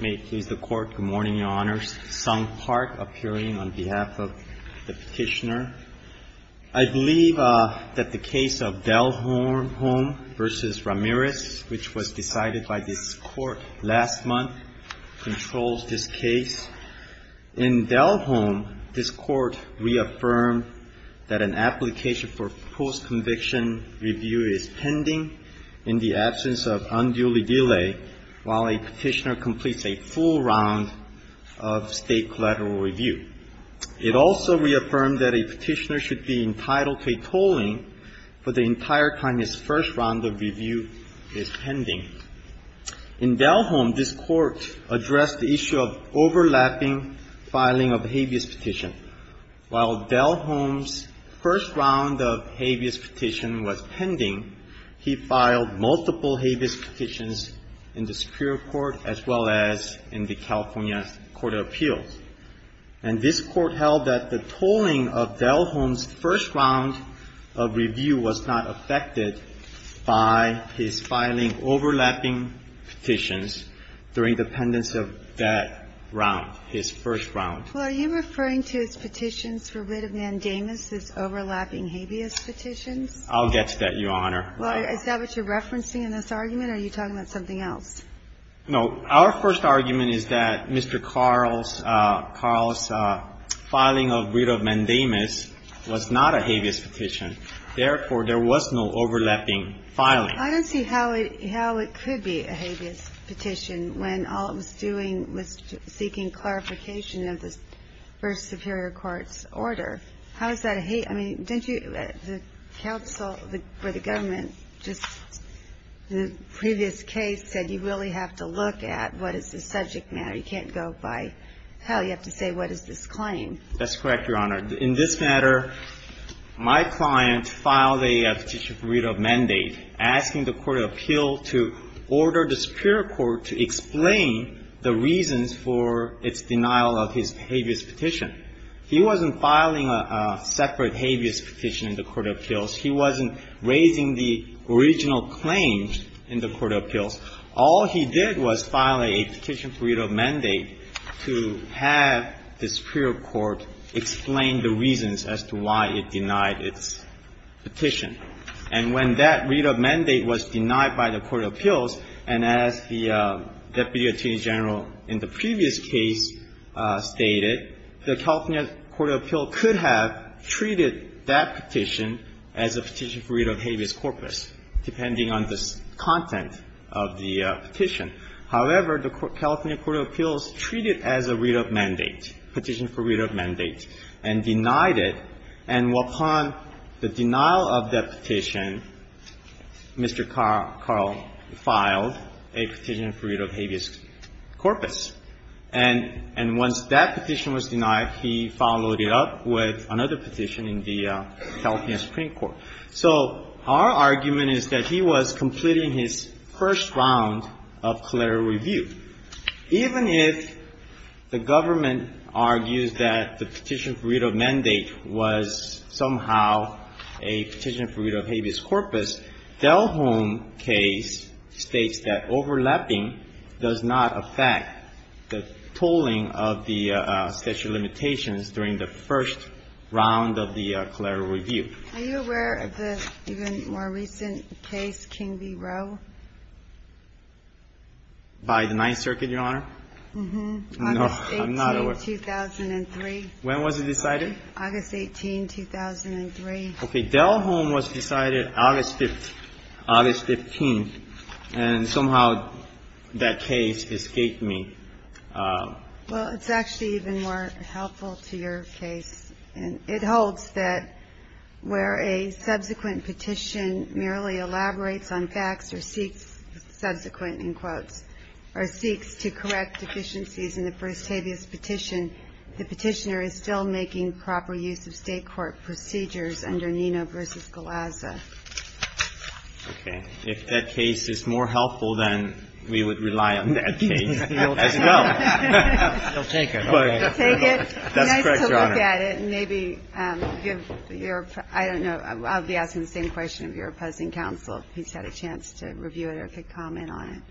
May it please the Court. Good morning, Your Honors. Sung Park appearing on behalf of the petitioner. I believe that the case of Delholm v. Ramirez, which was decided by this Court last month, controls this case. In Delholm, this Court reaffirmed that an application for post-conviction review is pending in the absence of unduly delay while a petitioner completes a full round of State collateral review. It also reaffirmed that a petitioner should be entitled to a tolling for the entire time his first round of review is pending. In Delholm, this Court addressed the issue of overlapping filing of habeas petition. While Delholm's first round of habeas petition was pending, he filed multiple habeas petitions in the Superior Court as well as in the California Court of Appeals. And this Court held that the tolling of Delholm's first round of review was not affected by his filing overlapping petitions during the pendency of that round, his first round. Well, are you referring to his petitions for writ of mandamus as overlapping habeas petitions? I'll get to that, Your Honor. Well, is that what you're referencing in this argument, or are you talking about something else? No. Our first argument is that Mr. Carl's filing of writ of mandamus was not a habeas petition. Therefore, there was no overlapping filing. I don't see how it could be a habeas petition when all it was doing was seeking clarification of the first Superior Court's order. How is that a habeas? I mean, didn't you at the counsel for the government just in the previous case said you really have to look at what is the subject matter. You can't go by hell. You have to say what is this claim. That's correct, Your Honor. In this matter, my client filed a petition for writ of mandate asking the court of appeal to order the Superior Court to explain the reasons for its denial of his habeas petition. He wasn't filing a separate habeas petition in the court of appeals. He wasn't raising the original claims in the court of appeals. All he did was file a petition for writ of mandate to have the Superior Court explain the reasons as to why it denied its petition. And when that writ of mandate was denied by the court of appeals, and as the deputy attorney general in the previous case stated, the California court of appeals could have treated that petition as a petition for writ of habeas corpus, depending on the content of the petition. However, the California court of appeals treated it as a writ of mandate, petition for writ of mandate, and denied it. And upon the denial of that petition, Mr. Carl filed a petition for writ of habeas corpus. And once that petition was denied, he followed it up with another petition in the California Supreme Court. So our argument is that he was completing his first round of collateral review. Even if the government argues that the petition for writ of mandate was somehow a petition for writ of habeas corpus, Delhome case states that overlapping does not affect the tolling of the statute of limitations during the first round of the collateral review. Are you aware of the even more recent case, King v. Roe? By the Ninth Circuit, Your Honor? Mm-hmm. No, I'm not aware. August 18, 2003. When was it decided? August 18, 2003. Okay. Delhome was decided August 15. And somehow that case escaped me. Well, it's actually even more helpful to your case. It holds that where a subsequent petition merely elaborates on facts or seeks subsequent, in quotes, or seeks to correct deficiencies in the first habeas petition, the petitioner is still making proper use of State court procedures under Nino v. Galazza. Okay. If that case is more helpful, then we would rely on that case as well. He'll take it. He'll take it. That's correct, Your Honor. It's nice to look at it and maybe give your – I don't know. I'll be asking the same question of your opposing counsel if he's had a chance to review it or could comment on it.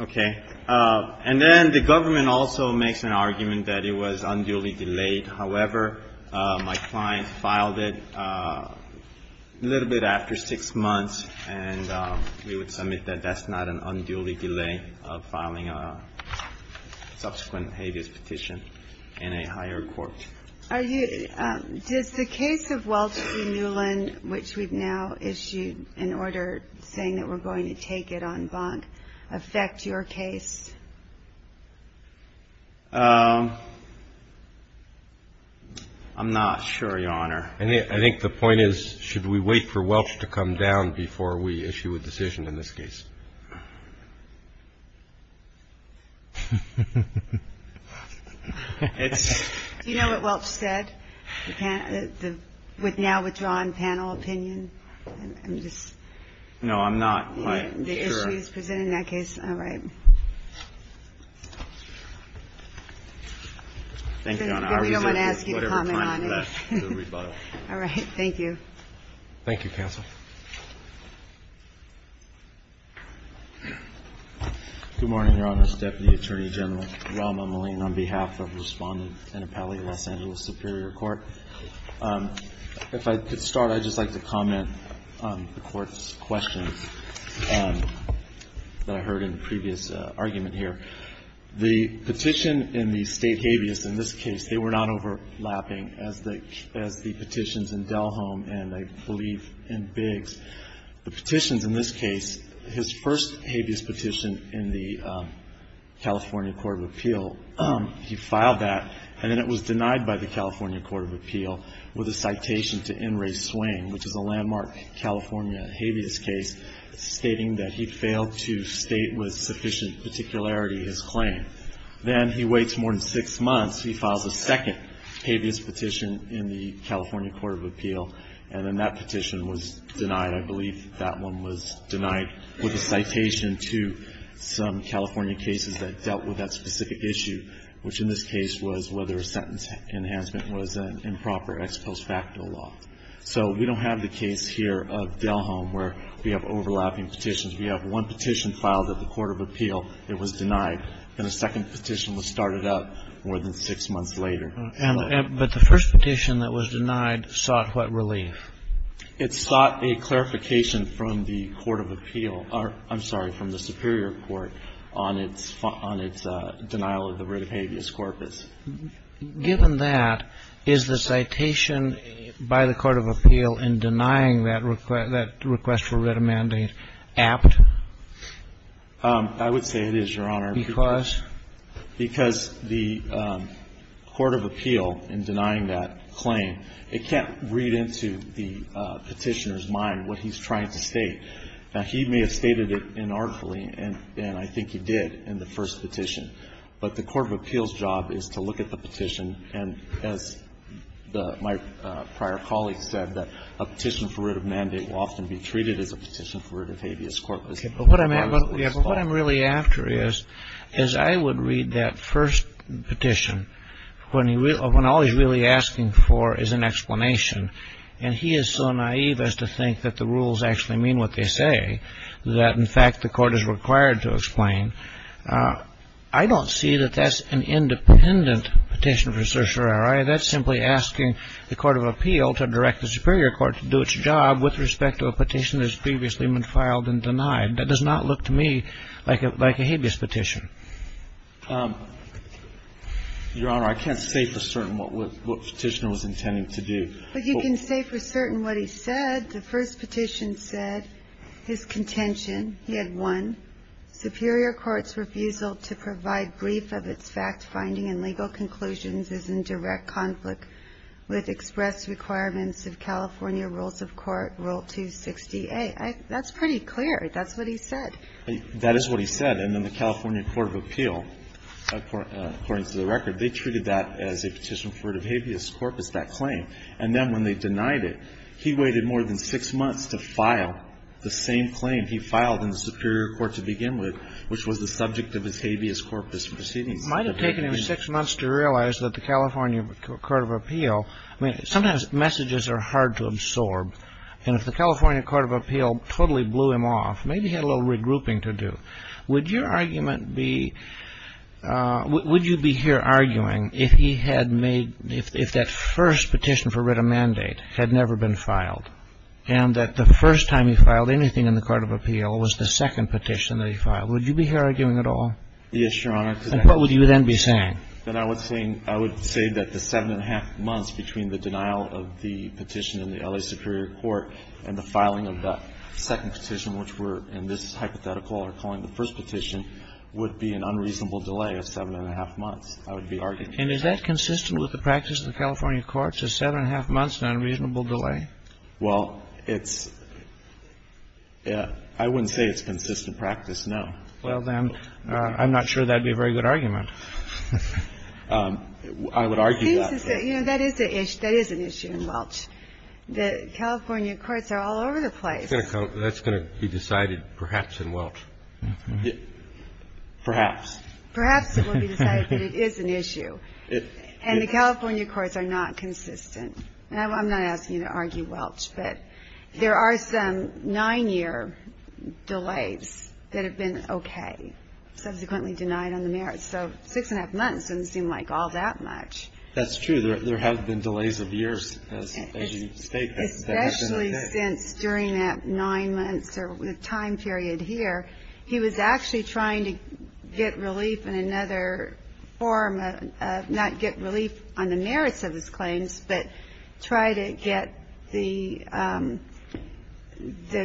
Okay. And then the government also makes an argument that it was unduly delayed. However, my client filed it a little bit after 6 months, and we would submit that that's not an unduly delay of filing a subsequent habeas petition in a higher court. Are you – does the case of Welch v. Newland, which we've now issued an order saying that we're going to take it en banc, affect your case? I'm not sure, Your Honor. I think the point is should we wait for Welch to come down before we issue a decision on this case? Do you know what Welch said with now withdrawn panel opinion? No, I'm not quite sure. The issues presented in that case? All right. Thank you, Your Honor. We don't want to ask you to comment on it. All right. Thank you. Thank you, counsel. Good morning, Your Honors. Deputy Attorney General Rahm Emanuel on behalf of Respondent and Appellee Los Angeles Superior Court. If I could start, I'd just like to comment on the Court's questions that I heard in the previous argument here. The petition and the State habeas in this case, they were not overlapping as the petitions in Delholm and I believe in Biggs. The petitions in this case, his first habeas petition in the California Court of Appeal, he filed that, and then it was denied by the California Court of Appeal with a citation to N. Ray Swain, which is a landmark California habeas case, stating that he failed to state with sufficient particularity his claim. Then he waits more than six months. He files a second habeas petition in the California Court of Appeal, and then that petition was denied. I believe that one was denied with a citation to some California cases that dealt with that specific issue, which in this case was whether a sentence enhancement was an improper ex post facto law. So we don't have the case here of Delholm where we have overlapping petitions. We have one petition filed at the Court of Appeal. It was denied. And a second petition was started up more than six months later. But the first petition that was denied sought what relief? It sought a clarification from the Court of Appeal or, I'm sorry, from the Superior Court on its denial of the writ of habeas corpus. Given that, is the citation by the Court of Appeal in denying that request for writ of mandate apt? I would say it is, Your Honor. Because? Because the Court of Appeal, in denying that claim, it can't read into the Petitioner's mind what he's trying to state. Now, he may have stated it inarticulately, and I think he did in the first petition. But the Court of Appeal's job is to look at the petition, and as my prior colleague said, that a petition for writ of mandate will often be treated as a petition for writ of habeas corpus. But what I'm really after is, is I would read that first petition when all he's really asking for is an explanation. And he is so naive as to think that the rules actually mean what they say, that, in fact, the Court is required to explain. I don't see that that's an independent petition for certiorari. That's simply asking the Court of Appeal to direct the Superior Court to do its job with respect to a petition that has previously been filed and denied. That does not look to me like a habeas petition. Your Honor, I can't say for certain what Petitioner was intending to do. But you can say for certain what he said. The first petition said, his contention, he had one, Superior Court's refusal to provide brief of its fact-finding and legal conclusions is in direct conflict with express requirements of California Rules of Court, Rule 268. That's pretty clear. That's what he said. That is what he said. And then the California Court of Appeal, according to the record, they treated that as a petition for writ of habeas corpus, that claim. And then when they denied it, he waited more than six months to file the same claim he filed in the Superior Court to begin with, which was the subject of his habeas corpus proceedings. It might have taken him six months to realize that the California Court of Appeal, I mean, sometimes messages are hard to absorb. And if the California Court of Appeal totally blew him off, maybe he had a little regrouping to do. Would your argument be, would you be here arguing if he had made, if that first petition for writ of mandate had never been filed and that the first time he filed anything in the Court of Appeal was the second petition that he filed, would you be here arguing at all? Yes, Your Honor. And what would you then be saying? Then I would say that the seven-and-a-half months between the denial of the petition in the L.A. Superior Court and the filing of that second petition, which we're in this hypothetical are calling the first petition, would be an unreasonable delay of seven-and-a-half months, I would be arguing. And is that consistent with the practice of the California courts, a seven-and-a-half months unreasonable delay? Well, it's – I wouldn't say it's consistent practice, no. Well, then, I'm not sure that would be a very good argument. I would argue that. You know, that is an issue in Welch. The California courts are all over the place. That's going to be decided perhaps in Welch. Perhaps. Perhaps it will be decided that it is an issue. And the California courts are not consistent. I'm not asking you to argue Welch, but there are some nine-year delays that have been okay, subsequently denied on the merits. So six-and-a-half months doesn't seem like all that much. That's true. There have been delays of years, as you state. Especially since during that nine months or the time period here, he was actually trying to get relief in another form of not get relief on the merits of his claims, but try to get the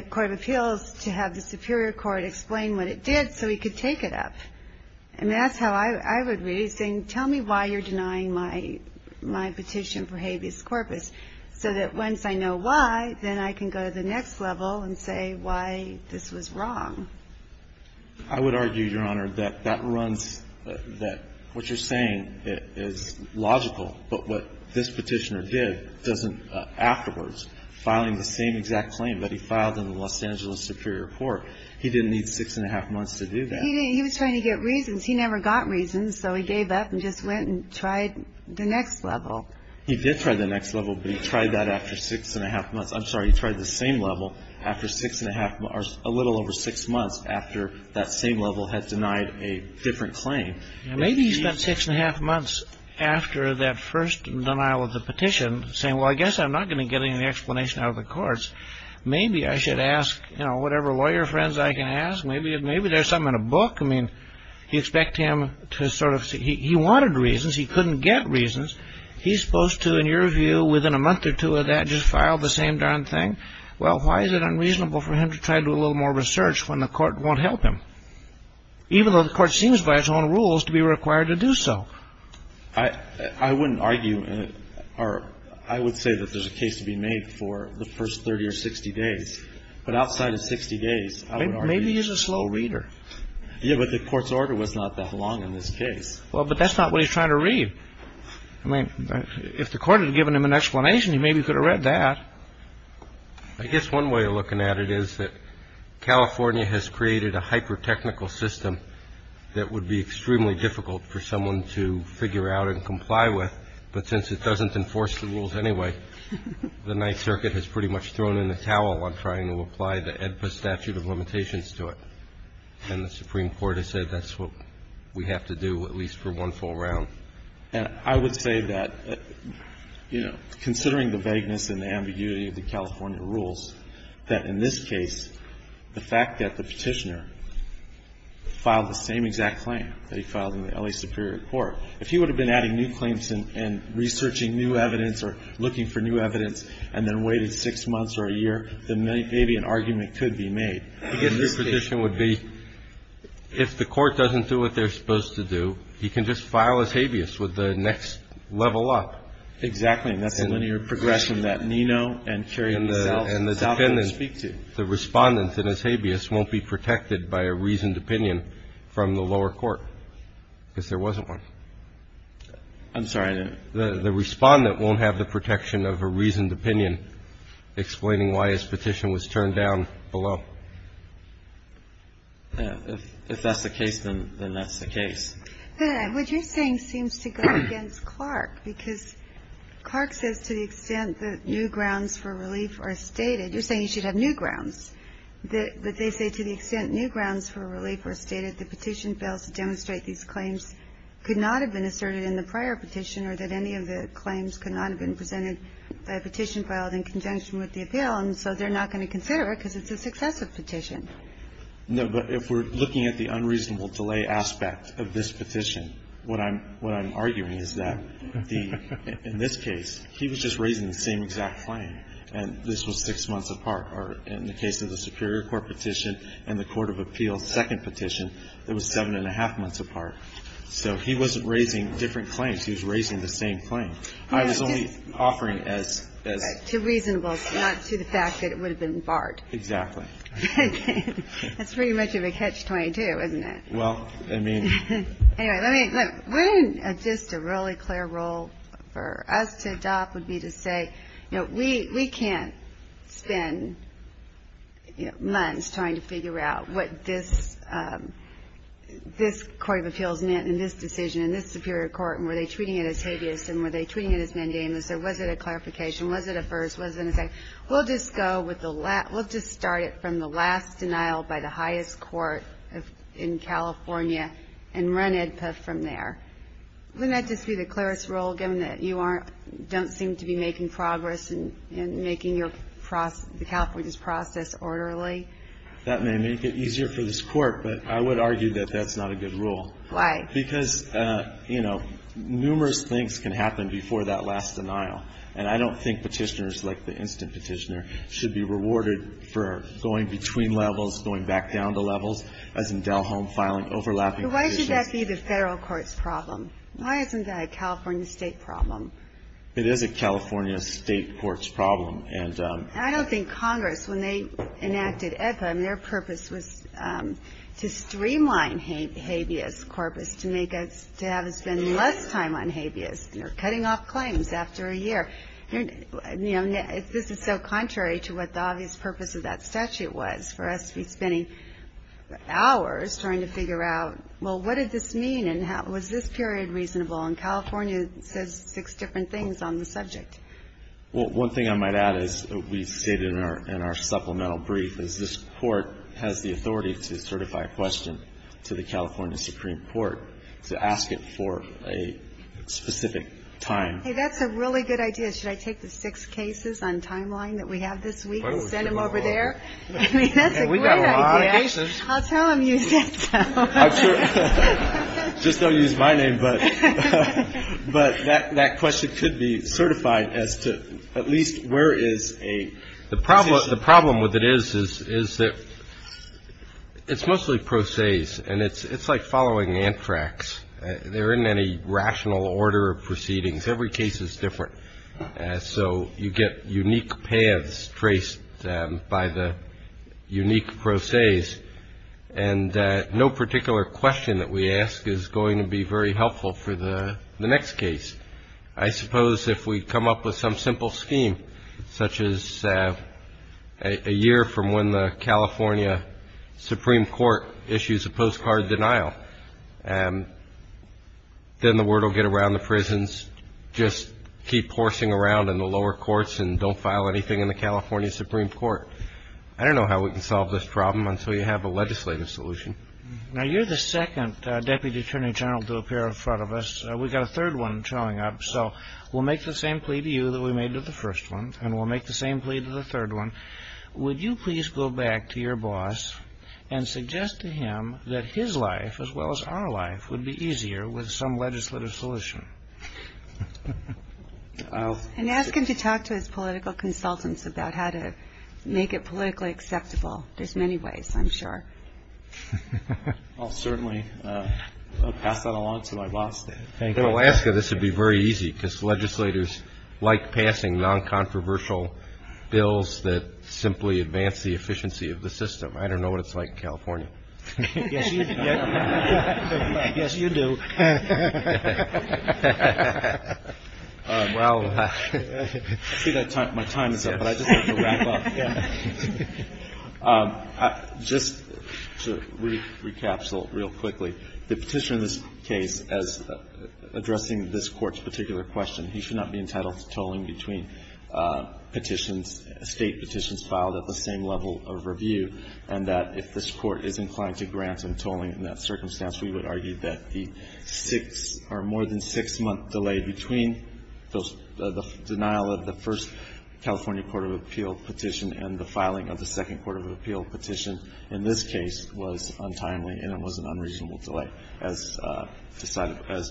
court of appeals to have the superior court explain what it did so he could take it up. I mean, that's how I would read it, saying, tell me why you're denying my petition for habeas corpus, so that once I know why, then I can go to the next level and say why this was wrong. I would argue, Your Honor, that that runs – that what you're saying is logical, but what this petitioner did doesn't – afterwards, filing the same exact claim that he filed in the Los Angeles superior court, he didn't need six-and-a-half months to do that. He was trying to get reasons. He never got reasons, so he gave up and just went and tried the next level. He did try the next level, but he tried that after six-and-a-half months – I'm sorry, he tried the same level after six-and-a-half – or a little over six months after that same level had denied a different claim. Maybe he spent six-and-a-half months after that first denial of the petition saying, well, I guess I'm not going to get any explanation out of the courts. Maybe I should ask, you know, whatever lawyer friends I can ask. Maybe there's something in a book. I mean, you expect him to sort of – he wanted reasons. He couldn't get reasons. He's supposed to, in your view, within a month or two of that, just file the same darn thing. Well, why is it unreasonable for him to try to do a little more research when the court won't help him? Even though the court seems by its own rules to be required to do so. I wouldn't argue – or I would say that there's a case to be made for the first 30 or 60 days. But outside of 60 days, I would argue – Maybe he's a slow reader. Yeah, but the court's order was not that long in this case. Well, but that's not what he's trying to read. I mean, if the court had given him an explanation, he maybe could have read that. I guess one way of looking at it is that California has created a hyper-technical system that would be extremely difficult for someone to figure out and comply with. But since it doesn't enforce the rules anyway, the Ninth Circuit has pretty much thrown in the towel on trying to apply the AEDPA statute of limitations to it. And the Supreme Court has said that's what we have to do, at least for one full round. And I would say that, you know, considering the vagueness and the ambiguity of the California rules, that in this case, the fact that the petitioner filed the same exact claim that he filed in the L.A. Superior Court, if he would have been adding new claims and researching new evidence or looking for new evidence and then waited six months or a year, then maybe an argument could be made. I guess your position would be if the court doesn't do what they're supposed to do, he can just file his habeas with the next level up. Exactly. And that's a linear progression that Nino and Currie themselves stop and speak to. And the defendant, the Respondent in his habeas won't be protected by a reasoned opinion from the lower court, because there wasn't one. I'm sorry. The Respondent won't have the protection of a reasoned opinion explaining why his petition was turned down below. If that's the case, then that's the case. What you're saying seems to go against Clark, because Clark says to the extent that new grounds for relief are stated. You're saying you should have new grounds. But they say to the extent new grounds for relief are stated, the petition fails to demonstrate these claims could not have been asserted in the prior petition or that any of the claims could not have been presented by a petition filed in conjunction with the appeal. And so they're not going to consider it, because it's a successive petition. No, but if we're looking at the unreasonable delay aspect of this petition, what I'm arguing is that in this case, he was just raising the same exact claim. And this was six months apart. Or in the case of the Superior Court petition and the Court of Appeals' second petition, it was seven and a half months apart. So he wasn't raising different claims. He was raising the same claim. I was only offering as — To reasonableness, not to the fact that it would have been barred. Exactly. Okay. That's pretty much of a catch-22, isn't it? Well, I mean — Anyway, let me — look. Wouldn't just a really clear rule for us to adopt would be to say, you know, we can't spend, you know, months trying to figure out what this Court of Appeals meant in this decision, in this Superior Court, and were they treating it as habeas and were they treating it as mandamus, or was it a clarification, was it a first, was it a second? We'll just go with the — we'll just start it from the last denial by the highest court in California and run EDPA from there. Wouldn't that just be the clearest rule, given that you aren't — don't seem to be making progress in making your — the California's process orderly? That may make it easier for this Court, but I would argue that that's not a good rule. Why? Because, you know, numerous things can happen before that last denial. And I don't think Petitioners, like the instant Petitioner, should be rewarded for going between levels, going back down to levels, as in Dell Home filing, overlapping petitions. But why should that be the Federal court's problem? Why isn't that a California State problem? It is a California State court's problem. I don't think Congress, when they enacted EDPA, their purpose was to streamline habeas corpus, to make us — to have us spend less time on habeas, you know, cutting off claims after a year. You know, this is so contrary to what the obvious purpose of that statute was, for us to be spending hours trying to figure out, well, what did this mean, and was this period reasonable? And California says six different things on the subject. Well, one thing I might add, as we stated in our supplemental brief, is this Court has the authority to certify a question to the California Supreme Court to ask it for a specific time. Hey, that's a really good idea. Should I take the six cases on timeline that we have this week and send them over there? I mean, that's a great idea. We've got a lot of cases. I'll tell them you said so. Just don't use my name. But that question could be certified as to at least where is a — The problem with it is, is that it's mostly pro ses, and it's like following anthrax. They're in any rational order of proceedings. Every case is different. So you get unique paths traced by the unique pro ses, And no particular question that we ask is going to be very helpful for the next case. I suppose if we come up with some simple scheme, such as a year from when the California Supreme Court issues a postcard denial, then the word will get around the prisons just keep horsing around in the lower courts and don't file anything in the California Supreme Court. I don't know how we can solve this problem until you have a legislative solution. Now, you're the second Deputy Attorney General to appear in front of us. We've got a third one showing up. So we'll make the same plea to you that we made to the first one, and we'll make the same plea to the third one. Would you please go back to your boss and suggest to him that his life, as well as our life, would be easier with some legislative solution? And ask him to talk to his political consultants about how to make it politically acceptable. There's many ways, I'm sure. I'll certainly pass that along to my boss. In Alaska, this would be very easy, because legislators like passing non-controversial bills that simply advance the efficiency of the system. I don't know what it's like in California. Yes, you do. Well, my time is up, but I just have to wrap up. Just to recapsule real quickly, the Petitioner in this case, as addressing this Court's particular question, he should not be entitled to tolling between petitions, State petitions filed at the same level of review, and that if this Court is inclined to grant him tolling in that circumstance, we would argue that the six or more than six-month delay between the denial of the first California Court of Appeal petition and the filing of the second Court of Appeal petition in this case was untimely, and it was an unreasonable delay as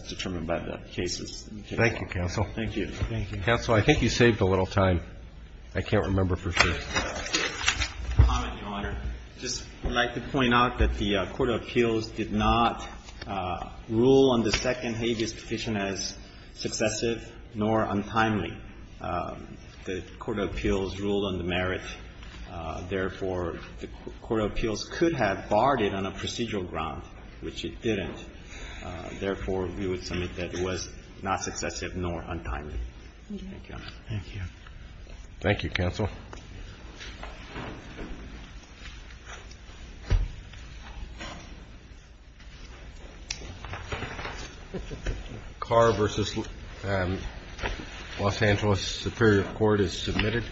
determined by the cases. Thank you, Counsel. Thank you. Counsel, I think you saved a little time. I can't remember for sure. Comment, Your Honor. Just would like to point out that the Court of Appeals did not rule on the second habeas petition as successive nor untimely. The Court of Appeals ruled on the merit. Therefore, the Court of Appeals could have barred it on a procedural ground, which it didn't. Therefore, we would submit that it was not successive nor untimely. Thank you. Thank you, Counsel. Car v. Los Angeles Superior Court is submitted.